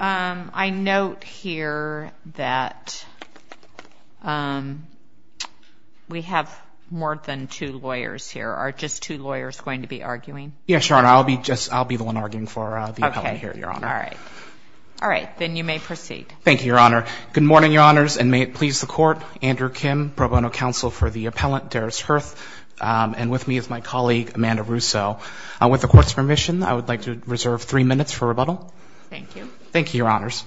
I note here that we have more than two lawyers here are just two lawyers going to be arguing yes your honor I'll be just I'll be the one arguing for the appellant here your honor all right all right then you may proceed thank you your honor good morning your honors and may it please the court Andrew Kim pro bono counsel for the appellant Darris Hurth and with me is my colleague Amanda Russo with the court's permission I would like to reserve three minutes for rebuttal thank you thank you your honors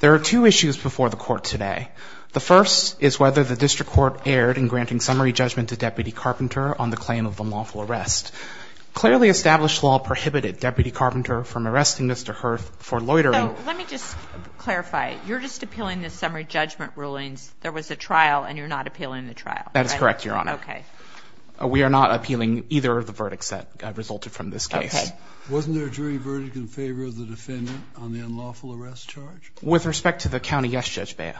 there are two issues before the court today the first is whether the district court erred in granting summary judgment to deputy carpenter on the claim of the lawful arrest clearly established law prohibited deputy carpenter from arresting mr. Hurth for loitering let me just clarify you're just appealing this summary judgment rulings there was a trial and you're not appealing the trial that is correct your honor okay we are not appealing either of the verdicts that resulted from this case wasn't there a jury verdict in favor of the defendant on the unlawful arrest charge with respect to the county yes judge Baya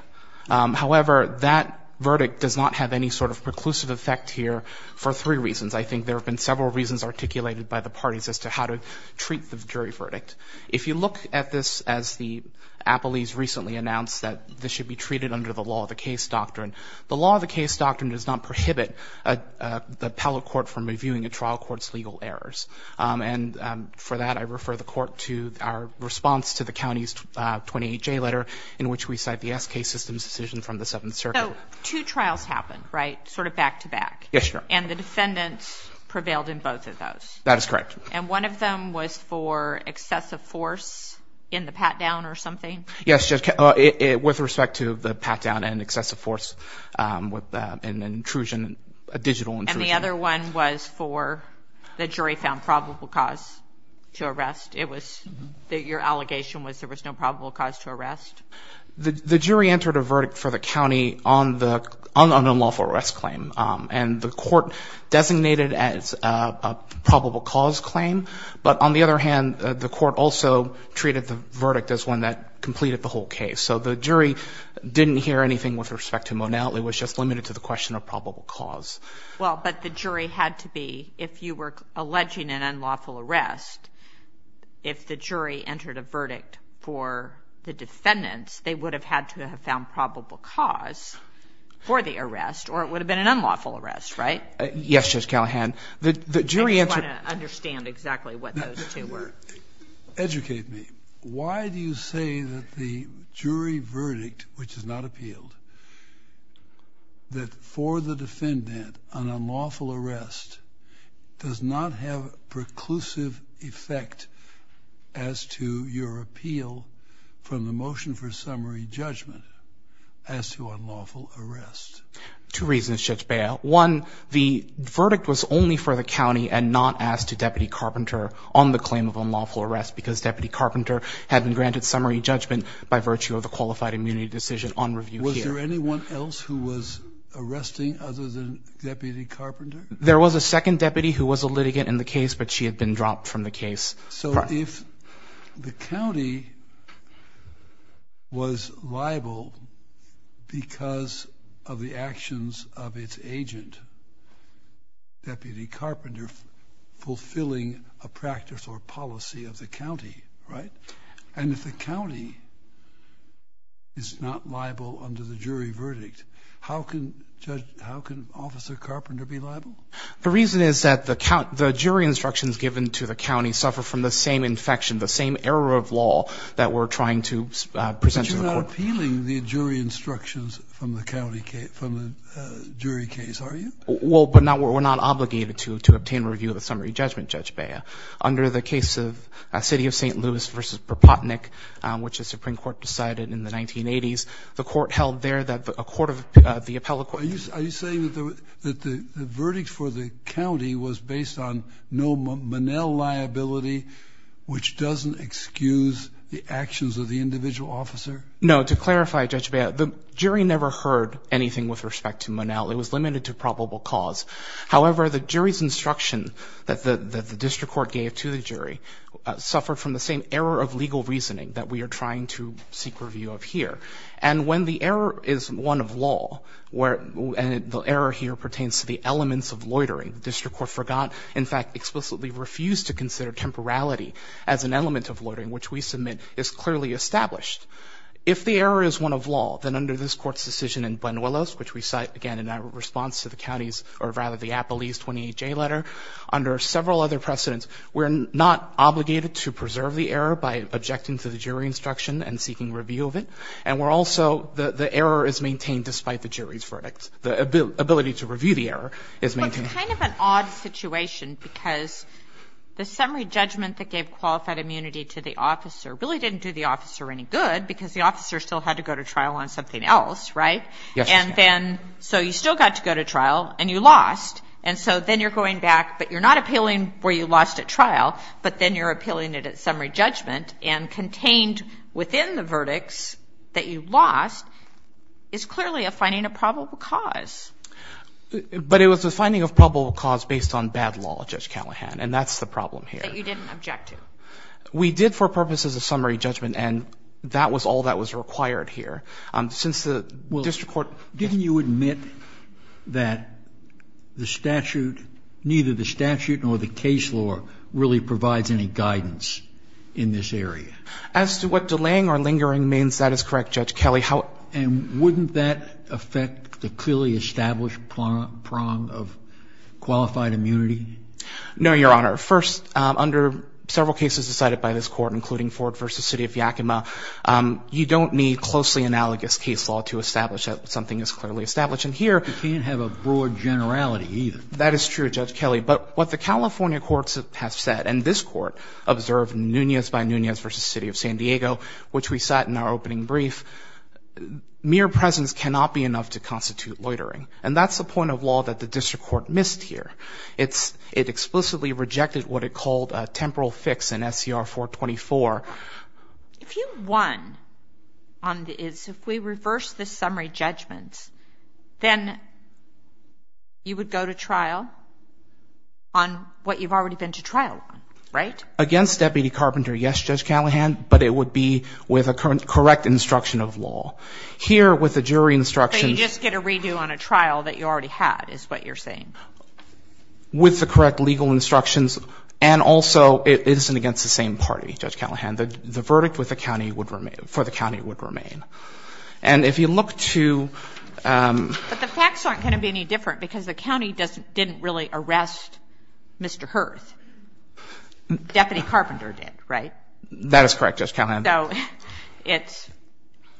however that verdict does not have any sort of preclusive effect here for three reasons I think there have been several reasons articulated by the parties as to how to treat the jury verdict if you look at this as the appellees recently announced that this should be treated under the law of the case doctrine the law of the case doctrine does not prohibit the appellate court from reviewing a trial court's legal errors and for that I refer the court to our response to the county's 28 J letter in which we cite the SK system's decision from the 7th circuit two trials happened right sort of back-to-back yes sure and the defendants prevailed in both of those that is correct and one of them was for excessive force in the pat-down or something yes just with respect to the pat-down and excessive force with an intrusion a digital and the other one was for the jury found probable cause to arrest it was that your allegation was there was no probable cause to arrest the jury entered a verdict for the county on the unlawful arrest claim and the court designated as a probable cause claim but on the other hand the court also treated the verdict as one that completed the whole case so the jury didn't hear anything with respect to Monality was just limited to the question of probable cause well but the to be if you were alleging an unlawful arrest if the jury entered a verdict for the defendants they would have had to have found probable cause for the arrest or it would have been an unlawful arrest right yes just Callahan the jury understand exactly what those two were educate me why do you say that the jury arrest does not have preclusive effect as to your appeal from the motion for summary judgment as to unlawful arrest two reasons just bail one the verdict was only for the county and not asked to deputy carpenter on the claim of unlawful arrest because deputy carpenter had been granted summary judgment by virtue of the qualified immunity decision on review here anyone else who was arresting other than deputy carpenter there was a second deputy who was a litigant in the case but she had been dropped from the case so if the county was liable because of the actions of its agent deputy carpenter fulfilling a practice or policy of the county right and if the county is not liable under the jury verdict how can judge how can officer carpenter be liable the reason is that the count the jury instructions given to the county suffer from the same infection the same error of law that we're trying to present appealing the jury instructions from the county case from the jury case are you well but now we're not obligated to to obtain review of the summary judgment judge Baya under the case of a city of st. Louis versus per pot Nick which the Supreme Court decided in the 1980s the court held there that a court of the appellate court are you saying that the verdict for the county was based on no Manel liability which doesn't excuse the actions of the individual officer no to clarify judge Baya the jury never heard anything with respect to Manel it was limited to probable cause however the jury's instruction that the district court gave to the jury suffered from the same error of legal reasoning that we are trying to seek review of here and when the error is one of law where the error here pertains to the elements of loitering district court forgot in fact explicitly refused to consider temporality as an element of loitering which we submit is clearly established if the error is one of law then under this court's decision and when Willis which we cite again in that response to the county's or rather the Apple East 28 J letter under several other precedents we're not obligated to preserve the error by objecting to the jury instruction and seeking review of it and we're also the the error is maintained despite the jury's verdict the ability to review the error is maintain kind of an odd situation because the summary judgment that gave qualified immunity to the officer really didn't do the officer any good because the officer still had to go to trial on something else right yes and then so you still got to go to trial and you lost and so then you're going back but you're not appealing where you lost at trial but then you're appealing it at summary judgment and contained within the verdicts that you've lost is clearly a finding a probable cause but it was a finding of probable cause based on bad law judge Callahan and that's the problem here we did for purposes of summary judgment and that was all that was required here since the district court didn't you admit that the statute neither the statute nor the case law really provides any guidance in this area as to what delaying or lingering means that is correct judge Kelly how and wouldn't that affect the clearly established prong of qualified immunity no your honor first under several cases decided by this court including Ford versus City of Yakima you don't need closely analogous case law to establish that something is clearly established and here you can't have a broad generality that is true judge Kelly but what the California courts have said and this court observed Nunez by Nunez versus City of San Diego which we sat in our opening brief mere presence cannot be enough to constitute loitering and that's the point of law that the district court missed here it's it explicitly rejected what it called a 424 if you won on the is if we reverse the summary judgments then you would go to trial on what you've already been to trial right against deputy carpenter yes judge Callahan but it would be with a current correct instruction of law here with the jury instruction just get a redo on a trial that you already had is what you're saying with the correct legal instructions and also it isn't against the same party judge Callahan that the verdict with the county would remain for the county would remain and if you look to the facts aren't going to be any different because the county doesn't didn't really arrest mr. hearth deputy carpenter did right that is correct just count on though it's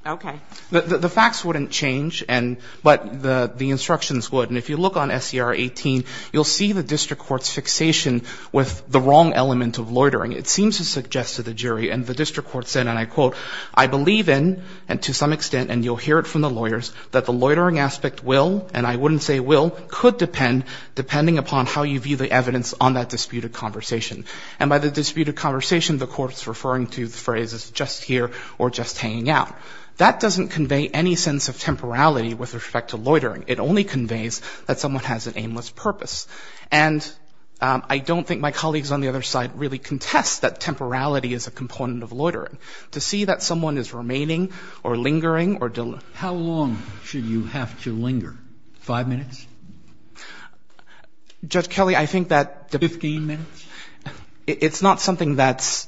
okay the facts wouldn't change and but the the instructions would and if you look on SCR 18 you'll see the district courts fixation with the wrong element of loitering it seems to suggest to the jury and the district court said and I quote I believe in and to some extent and you'll hear it from the lawyers that the loitering aspect will and I wouldn't say will could depend depending upon how you view the evidence on that disputed conversation and by the disputed conversation the courts referring to the phrase is just here or just hanging out that doesn't convey any sense of temporality with respect to loitering it only conveys that someone has an aimless purpose and I don't think my colleagues on the other side really contest that temporality is a component of loitering to see that someone is remaining or lingering or Dylan how long should you have to linger five minutes judge Kelly I think that the 15 minutes it's not something that's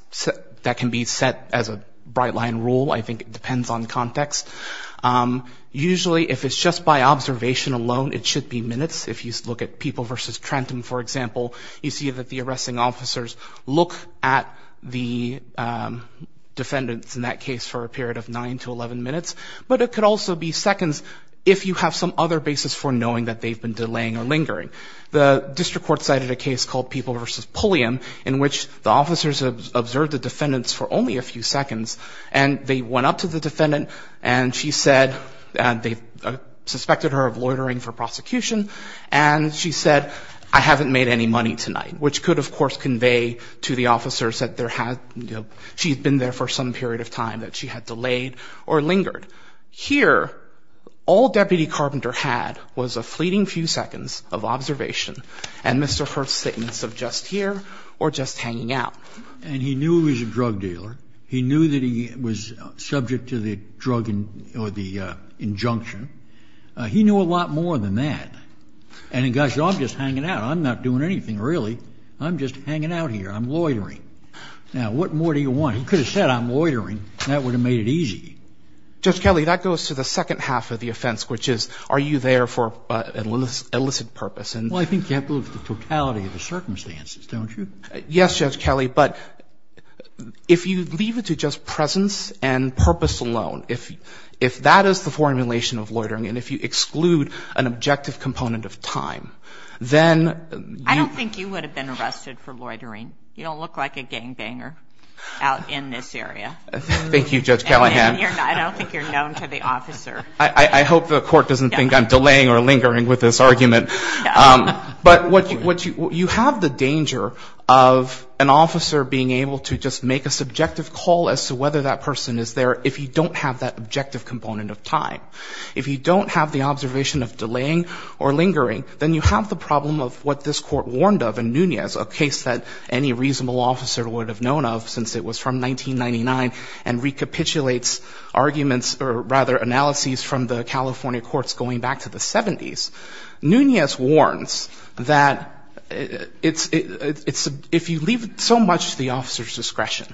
that can be set as a bright line rule I think it depends on context usually if it's just by observation alone it should be minutes if you look at people versus Trenton for example you see that the arresting officers look at the defendants in that case for a period of 9 to 11 minutes but it could also be seconds if you have some other basis for knowing that they've been delaying or lingering the district court cited a case called people versus Pulliam in which the officers observed the defendants for only a few seconds and they went up to the defendant and she said they suspected her of loitering for prosecution and she said I haven't made any money tonight which could of course convey to the officers that there had she's been there for some period of time that she had delayed or lingered here all deputy carpenter had was a fleeting few seconds of observation and mr. first statements of just here or just hanging out and he knew he was a drug dealer he knew that he was subject to the drug and or the injunction he knew a I'm not doing anything really I'm just hanging out here I'm loitering now what more do you want he could have said I'm loitering that would have made it easy just Kelly that goes to the second half of the offense which is are you there for a little elicit purpose and well I think you have to look at the totality of the circumstances don't you yes judge Kelly but if you leave it to just presence and purpose alone if if that is the formulation of loitering and if you then I don't think you would have been arrested for loitering you don't look like a gangbanger out in this area thank you judge Callahan I don't think you're known to the officer I hope the court doesn't think I'm delaying or lingering with this argument but what you what you have the danger of an officer being able to just make a subjective call as to whether that person is there if you don't have that objective component of time if you don't have the observation of delaying or lingering then you have the problem of what this court warned of and Nunez a case that any reasonable officer would have known of since it was from 1999 and recapitulates arguments or rather analyses from the California courts going back to the 70s Nunez warns that it's it's if you leave so much the officers discretion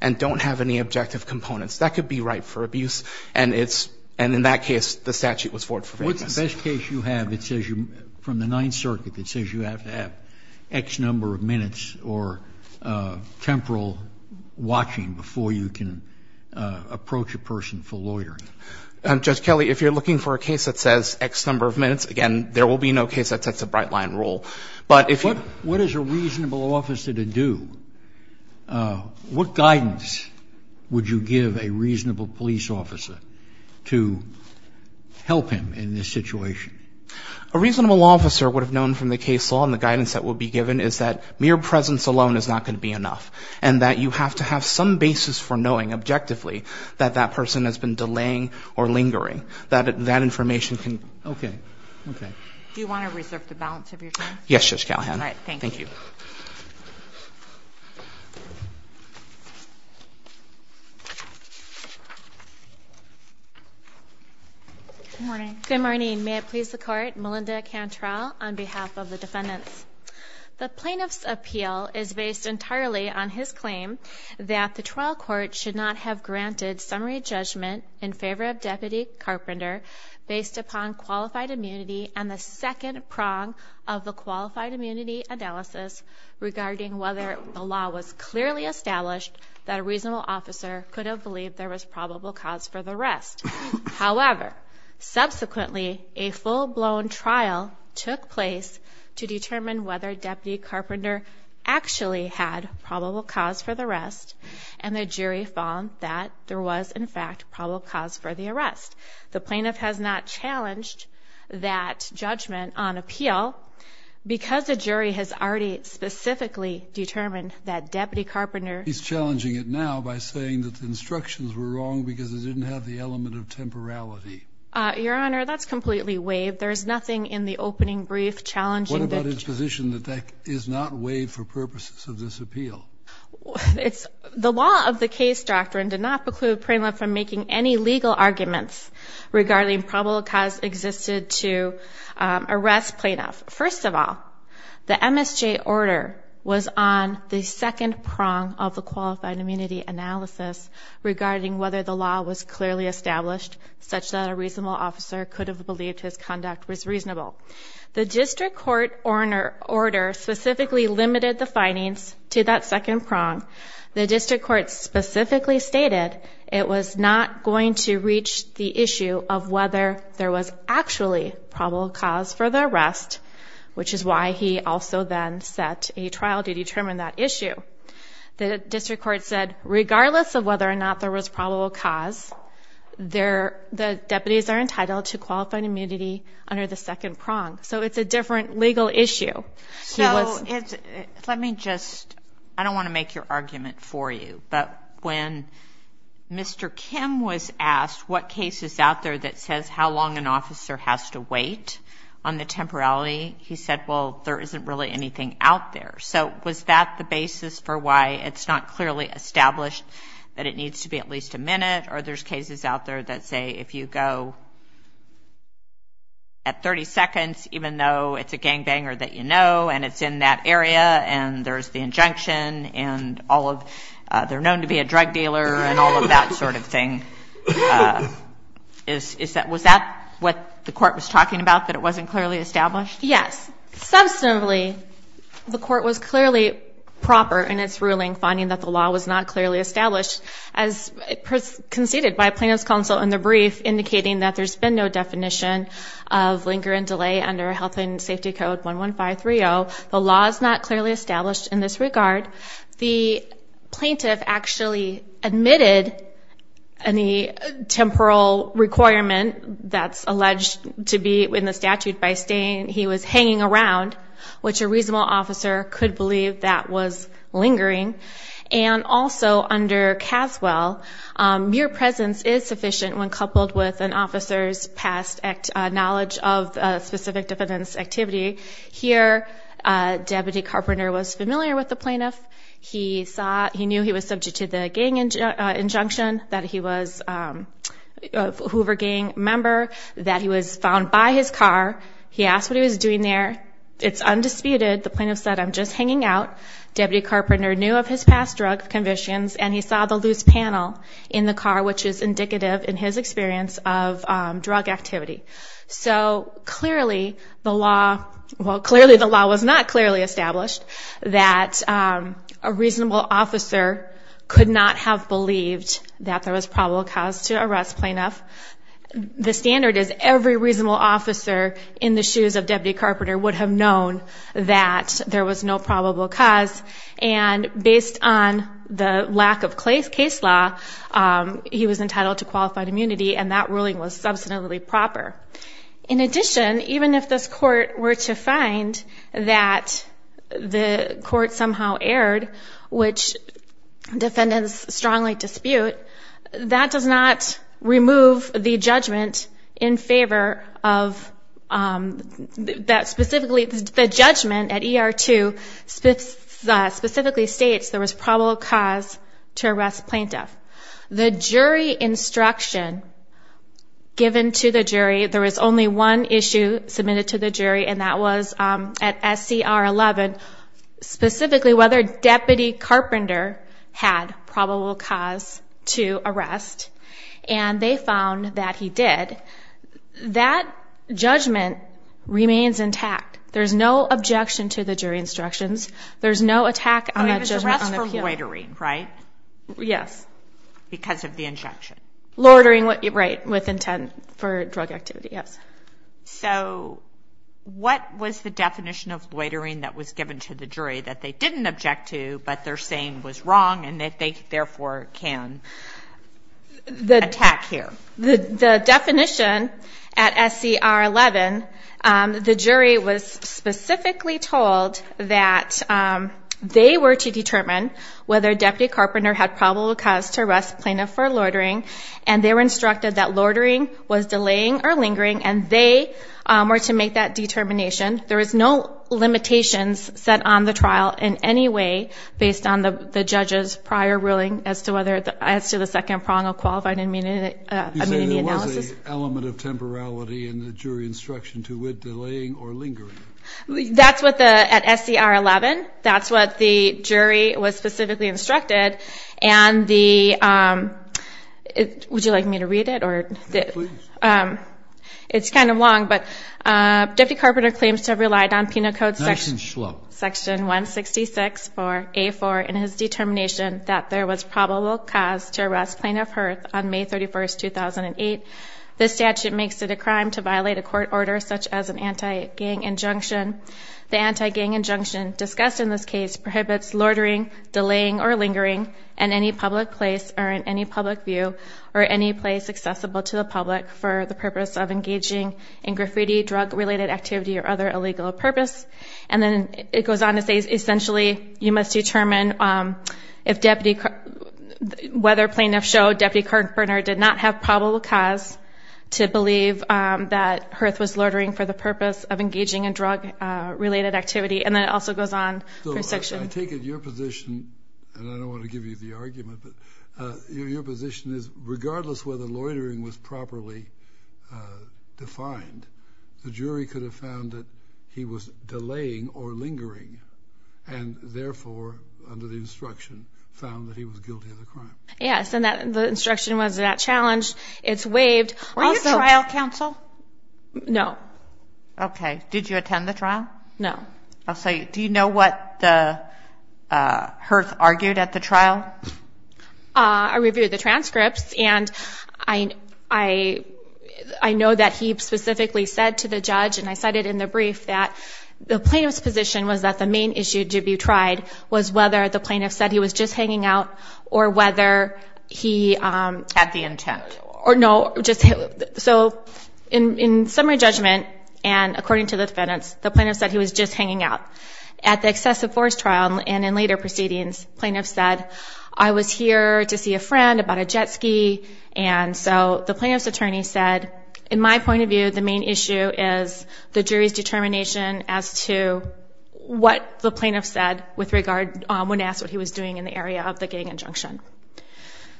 and don't have any objective components that could be right for abuse and it's and in that case the statute was for the best case you have it says you from the Ninth Circuit that says you have to have X number of minutes or temporal watching before you can approach a person for loitering and judge Kelly if you're looking for a case that says X number of minutes again there will be no case that sets a bright line rule but if what what is a reasonable officer to do what guidance would you give a reasonable police officer to help him in this situation a reasonable officer would have known from the case law and the guidance that will be given is that mere presence alone is not going to be enough and that you have to have some basis for knowing objectively that that person has been delaying or lingering that that information can okay okay do good morning may please the court Melinda can trial on behalf of the defendants the plaintiffs appeal is based entirely on his claim that the trial court should not have granted summary judgment in favor of deputy carpenter based upon qualified immunity and the second prong of the qualified immunity analysis regarding whether the law was clearly established that a reasonable officer could have believed there was probable cause for the rest however subsequently a full-blown trial took place to determine whether deputy carpenter actually had probable cause for the rest and the jury found that there was in fact probable cause for the arrest the plaintiff has not challenged that judgment on appeal because the jury has already specifically determined that deputy carpenter he's challenging it now by saying that the instructions were wrong because it didn't have the element of temporality your honor that's completely waived there's nothing in the opening brief challenge what about his position that that is not waived for purposes of this appeal it's the law of the case doctrine did not preclude Pringle from making any legal arguments regarding probable cause existed to arrest plaintiff first of all the MSJ order was on the second prong of the qualified immunity analysis regarding whether the law was clearly established such that a reasonable officer could have believed his conduct was reasonable the district court order order specifically limited the findings to that second prong the district court specifically stated it was not going to reach the issue of whether there was actually probable cause for the rest which is why he also then set a trial to determine that issue the district court said regardless of whether or not there was probable cause there the deputies are entitled to qualified immunity under the second prong so it's a different legal issue so it's let me just I don't want to make your argument for you but when mr. Kim was asked what cases out there that says how long an officer has to wait on the temporality he said well there isn't really anything out there so was that the basis for why it's not clearly established that it needs to be at least a minute or there's cases out there that say if you go at 30 seconds even though it's a gangbanger that you know and it's in that area and there's the injunction and all of their known to be a drug dealer and all of that sort of thing is that was that what the court was talking about that it wasn't clearly established yes substantively the court was clearly proper in its ruling finding that the law was not clearly established as conceded by plaintiffs counsel in the brief indicating that there's been no the law is not clearly established in this regard the plaintiff actually admitted any temporal requirement that's alleged to be in the statute by staying he was hanging around which a reasonable officer could believe that was lingering and also under Caswell your presence is sufficient when coupled with an officer's knowledge of specific defendants activity here deputy carpenter was familiar with the plaintiff he thought he knew he was subject to the gang injunction that he was a member that he was found by his car he asked what he was doing there it's undisputed the plaintiff said I'm just hanging out deputy carpenter knew of his past drug conditions and he saw the loose panel in the car which is indicative in his experience of drug activity so clearly the law well clearly the law was not clearly established that a reasonable officer could not have believed that there was probable cause to arrest plaintiff the standard is every reasonable officer in the shoes of deputy carpenter would have known that there was no probable cause and based on the lack of clay's case law he was entitled to qualified immunity and that ruling was substantively proper in addition even if this court were to find that the court somehow aired which defendants strongly dispute that does not remove the judgment in favor of that specifically the judgment at er to specifically states there was probable cause to arrest plaintiff the jury instruction given to the jury there is only one issue submitted to the jury and that was at SCR 11 specifically whether deputy carpenter had probable cause to arrest and they found that he did that judgment remains intact there's no objection to the jury instructions there's no attack on the jury right yes because of the injection loitering what you write with intent for drug activity yes so what was the definition of loitering that was given to the jury that they didn't object to but they're saying was wrong and that they therefore can the attack here the definition at SCR 11 the jury was specifically told that they were to determine whether deputy carpenter had probable cause to arrest plaintiff for loitering and they were instructed that loitering was delaying or lingering and they were to make that determination there is no limitations set on the trial in any way based on the judges prior ruling as to whether as to the second prong of qualified immunity element of temporality in the jury instruction to with delaying or lingering that's what the at SCR 11 that's what the jury was specifically instructed and the it would you like me to read it or it's kind of long but deputy carpenter claims to relied on penal code section 166 for a for in his determination that there was probable cause to arrest plaintiff her on May 31st 2008 this statute makes it a crime to violate a court order such as an anti-gang injunction the anti-gang injunction discussed in this case prohibits loitering delaying or lingering and any public place or in any public view or any place accessible to the public for the purpose of engaging in graffiti drug-related activity or other illegal purpose and then it goes on to say essentially you must determine if deputy whether plaintiff showed deputy current burner did not have probable cause to believe that hearth was loitering for the purpose of engaging in drug-related activity and then it also goes on section I take it your position and I don't want to give you the argument but your position is regardless whether loitering was properly defined the jury could have he was delaying or lingering and therefore under the instruction found that he was guilty of the crime yes and that the instruction was that challenged it's waived trial counsel no okay did you attend the trial no I'll say do you know what the hearth argued at the trial I reviewed the transcripts I know that he specifically said to the judge and I cited in the brief that the plaintiff's position was that the main issue to be tried was whether the plaintiff said he was just hanging out or whether he had the intent or no just so in summary judgment and according to the defendants the plaintiff said he was just hanging out at the excessive force trial and in later proceedings plaintiff I was here to see a friend about a jet ski and so the plaintiff's attorney said in my point of view the main issue is the jury's determination as to what the plaintiff said with regard when asked what he was doing in the area of the gang injunction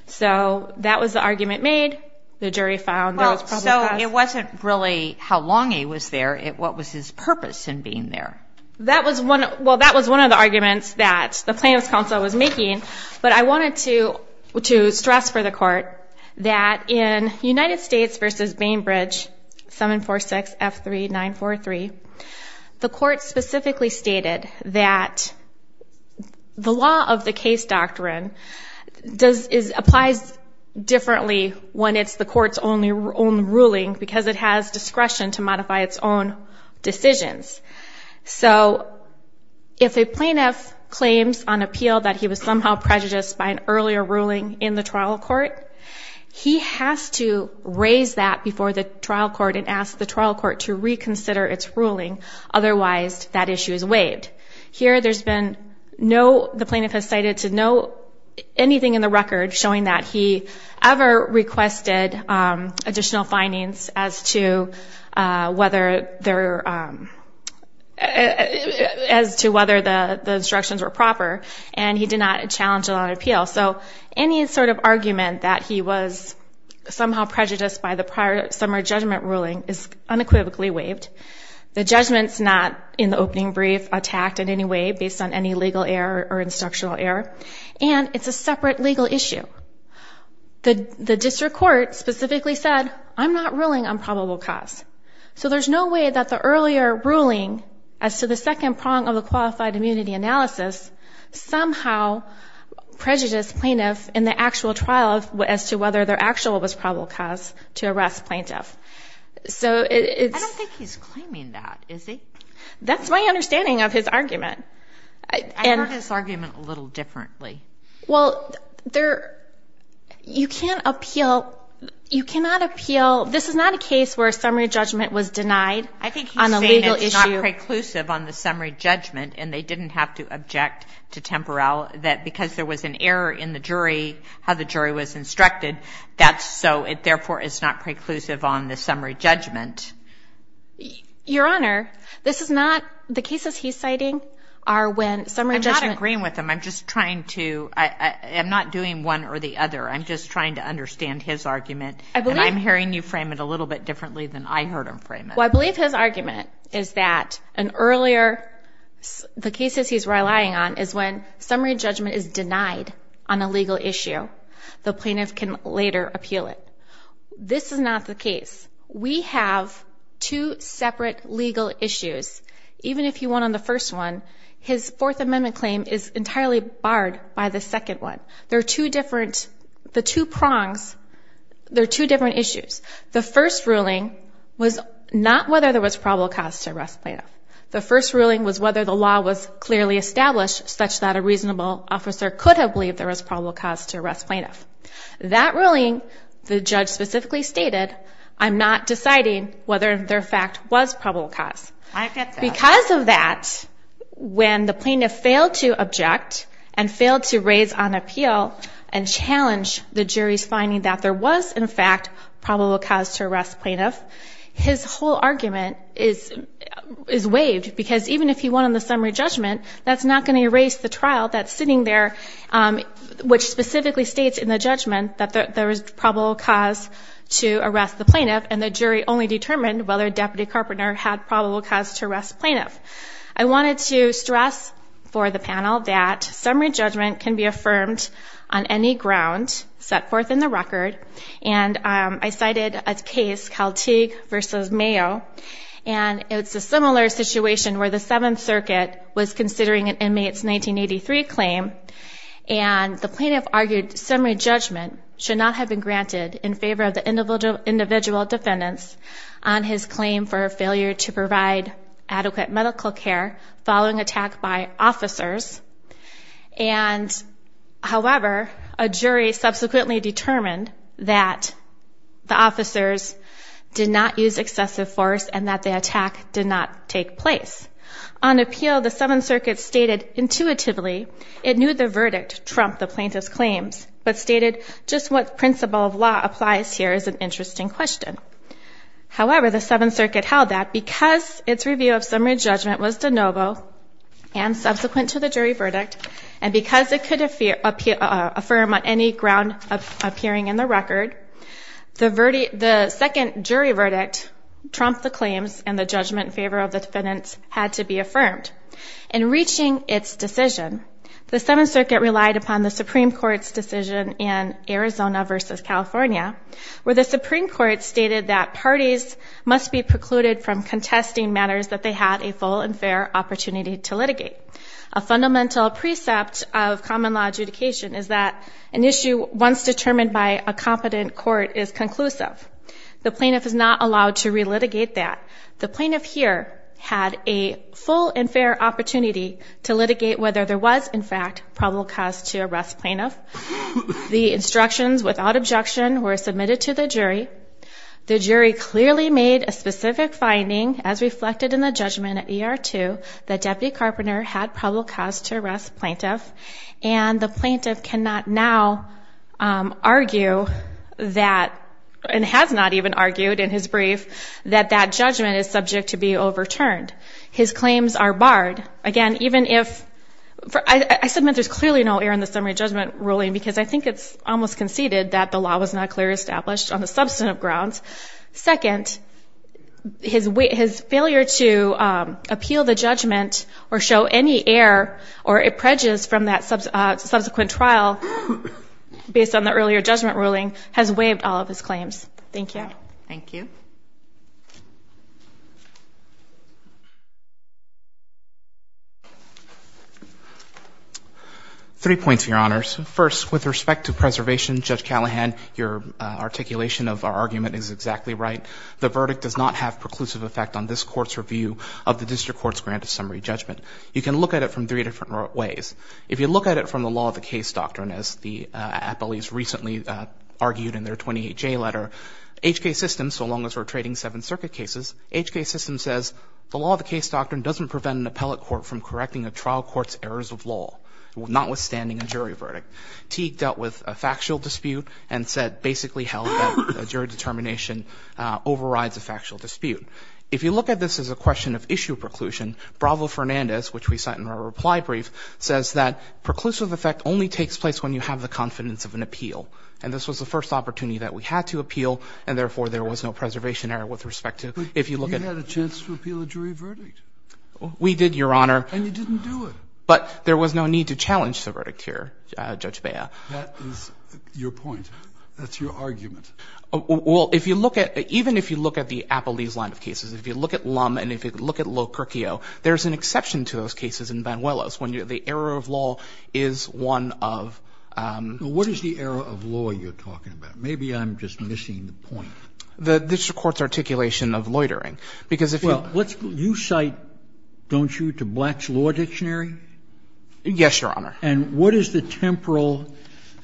so that was the argument made the jury found so it wasn't really how long he was there it what was his purpose in being there that was one well that was one of the arguments that the plaintiff's counsel was making but I wanted to to stress for the court that in United States versus Bainbridge 746 f3943 the court specifically stated that the law of the case doctrine does is applies differently when it's the courts only own ruling because it has discretion to modify its own decisions so if a plaintiff claims on appeal that he was somehow prejudiced by an earlier ruling in the trial court he has to raise that before the trial court and ask the trial court to reconsider its ruling otherwise that issue is waived here there's been no the plaintiff has cited to know anything in the record showing that he ever requested additional findings as to whether there as to whether the the instructions were proper and he did not challenge a lot of appeal so any sort of argument that he was somehow prejudiced by the prior summer judgment ruling is unequivocally waived the judgments not in the opening brief attacked in any way based on any legal error or instructional error and it's a separate legal issue the the court specifically said I'm not ruling on probable cause so there's no way that the earlier ruling as to the second prong of the qualified immunity analysis somehow prejudice plaintiff in the actual trial of what as to whether their actual was probable cause to arrest plaintiff so it's that's my understanding of his argument and this argument a little differently well there you can't appeal you cannot appeal this is not a case where a summary judgment was denied I think on a legal issue inclusive on the summary judgment and they didn't have to object to temporal that because there was an error in the jury how the jury was instructed that's so it therefore is not preclusive on the summary judgment your honor this is not the cases he's citing are when summary with them I'm just trying to I am not doing one or the other I'm just trying to understand his argument I believe I'm hearing you frame it a little bit differently than I heard him frame I believe his argument is that an earlier the cases he's relying on is when summary judgment is denied on a legal issue the plaintiff can later appeal it this is not the case we have two separate legal issues even if you want on the first one his fourth amendment claim is entirely barred by the second one there are two different the two prongs there are two different issues the first ruling was not whether there was probable cause to arrest plaintiff the first ruling was whether the law was clearly established such that a reasonable officer could have believed there was probable cause to arrest plaintiff that ruling the judge specifically stated I'm not deciding whether their fact was probable cause I object and fail to raise on appeal and challenge the jury's finding that there was in fact probable cause to arrest plaintiff his whole argument is is waived because even if he won on the summary judgment that's not going to erase the trial that's sitting there which specifically states in the judgment that there was probable cause to arrest the plaintiff and the jury only determined whether deputy Carpenter had probable cause to arrest plaintiff I wanted to stress for the panel that summary judgment can be affirmed on any ground set forth in the record and I cited a case Calteague versus Mayo and it's a similar situation where the Seventh Circuit was considering an inmates 1983 claim and the plaintiff argued summary judgment should not have been granted in favor of the individual individual defendants on his claim for failure to provide adequate medical care following attack by officers and however a jury subsequently determined that the officers did not use excessive force and that the attack did not take place on appeal the Seventh Circuit stated intuitively it knew the verdict Trump the plaintiff's claims but stated just what principle of law applies here is an interesting question however the Seventh Circuit held that because its review of summary judgment was de novo and subsequent to the jury verdict and because it could appear up here affirm on any ground of appearing in the record the verdict the second jury verdict trumped the claims and the judgment favor of the defendants had to be affirmed in reaching its decision the Seventh Circuit relied upon the Supreme Court's decision in Arizona versus California where the Supreme Court stated that parties must be precluded from contesting matters that they had a full and fair opportunity to litigate a fundamental precept of common law adjudication is that an issue once determined by a competent court is conclusive the plaintiff is not allowed to relitigate that the plaintiff here had a full and fair opportunity to litigate whether there was in fact probable cause to arrest plaintiff the instructions without objection were submitted to the jury the jury clearly made a specific finding as reflected in the judgment at er to the deputy carpenter had probable cause to arrest plaintiff and the plaintiff cannot now argue that and has not even argued in his brief that that judgment is subject to be overturned his claims are barred again even if I submit there's clearly no air in the summary judgment ruling because I think it's almost conceded that the law was not clear established on the substantive grounds second his weight his failure to appeal the judgment or show any air or a prejudice from that subsequent trial based on the earlier judgment ruling has waived all of his claims thank you thank you three points your honors first with respect to preservation judge Callahan your articulation of our argument is exactly right the verdict does not have preclusive effect on this court's review of the district court's grant of summary judgment you can look at it from three different ways if you look at it from the law of the case doctrine as the appellees recently argued in their 28 J letter HK system so long as we're trading seven circuit cases HK system says the law of the case doctrine doesn't prevent an appellate court from correcting a trial court's errors of law notwithstanding a jury verdict Teague dealt with a factual dispute and said basically held a jury determination overrides a factual dispute if you look at this as a question of issue preclusion Bravo Fernandez which we cite in our reply brief says that preclusive effect only takes place when you have the confidence of an appeal and this was the first opportunity that we had to appeal and therefore there was no we did your honor but there was no need to challenge the verdict here judge Baya your point that's your argument well if you look at even if you look at the appellees line of cases if you look at Lum and if you look at low curcio there's an exception to those cases in van Willis when you're the error of law is one of what is the error of law you're talking about maybe I'm just the courts articulation of loitering because if you cite don't you to blacks law dictionary yes your honor and what is the temporal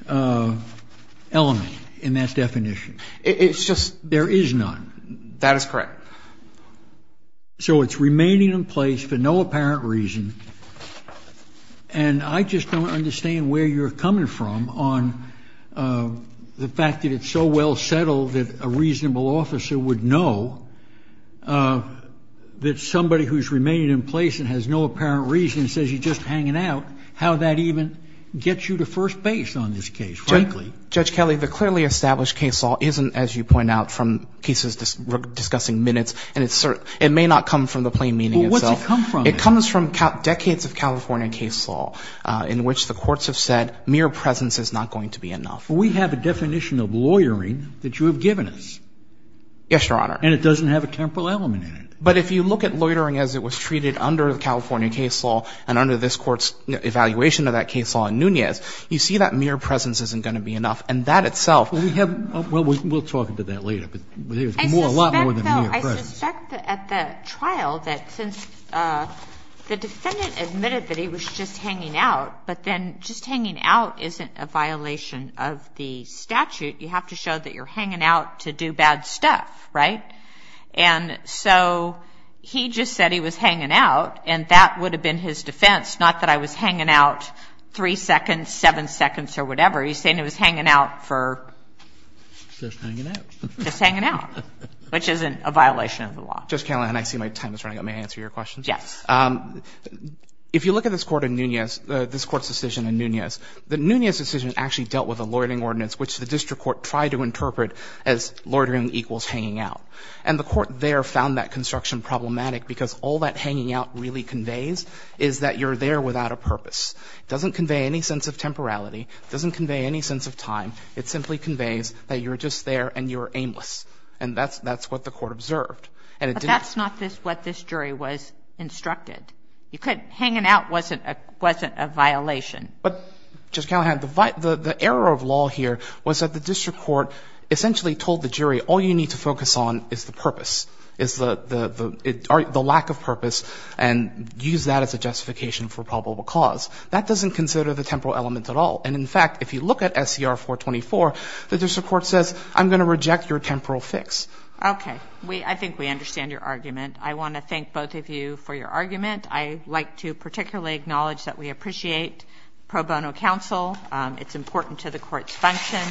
element in that definition it's just there is none that is correct so it's remaining in place for no apparent reason and I just don't understand where you're coming from on the fact that it's so well settled that a reasonable officer would know that somebody who's remaining in place and has no apparent reason says you just hanging out how that even gets you to first base on this case frankly judge Kelly the clearly established case law isn't as you point out from cases discussing minutes and it's certain it may not come from the plain meaning it so come from it comes from decades of California case law in which the courts have said mere presence is not going to be enough we have a definition of lawyering that you have given us yes your honor and it doesn't have a temporal element in it but if you look at loitering as it was treated under the California case law and under this courts evaluation of that case on Nunez you see that mere presence isn't going to be enough and that itself we have to show that you're hanging out to do bad stuff right and so he just said he was hanging out and that would have been his defense not that I was hanging out three seconds seven seconds or whatever he's saying it was hanging out for just hanging out which isn't a violation of the law just count and I see my time is running let me answer your question yes if you look at this court in Nunez this court's decision in Nunez the Nunez decision actually dealt with a loitering ordinance which the district court tried to interpret as loitering equals hanging out and the court there found that construction problematic because all that hanging out really conveys is that you're there without a purpose doesn't convey any sense of temporality doesn't convey any sense of time it simply conveys that you're just there and you're aimless and that's that's what the court observed and it that's not this what this jury was instructed you could hang it out wasn't a wasn't a violation but just can't have the fight the the error of law here was that the district court essentially told the jury all you need to focus on is the purpose is the the the lack of purpose and use that as a justification for at all and in fact if you look at SCR 424 that there's a court says I'm going to reject your temporal fix okay we I think we understand your argument I want to thank both of you for your argument I like to particularly acknowledge that we appreciate pro bono counsel it's important to the court's function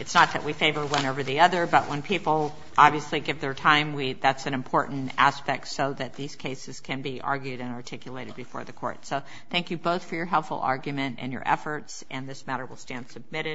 it's not that we favor one over the other but when people obviously give their time we that's an important aspect so that these cases can be argued and articulated before the court so thank you both for your helpful argument and your efforts and this matter will stand submitted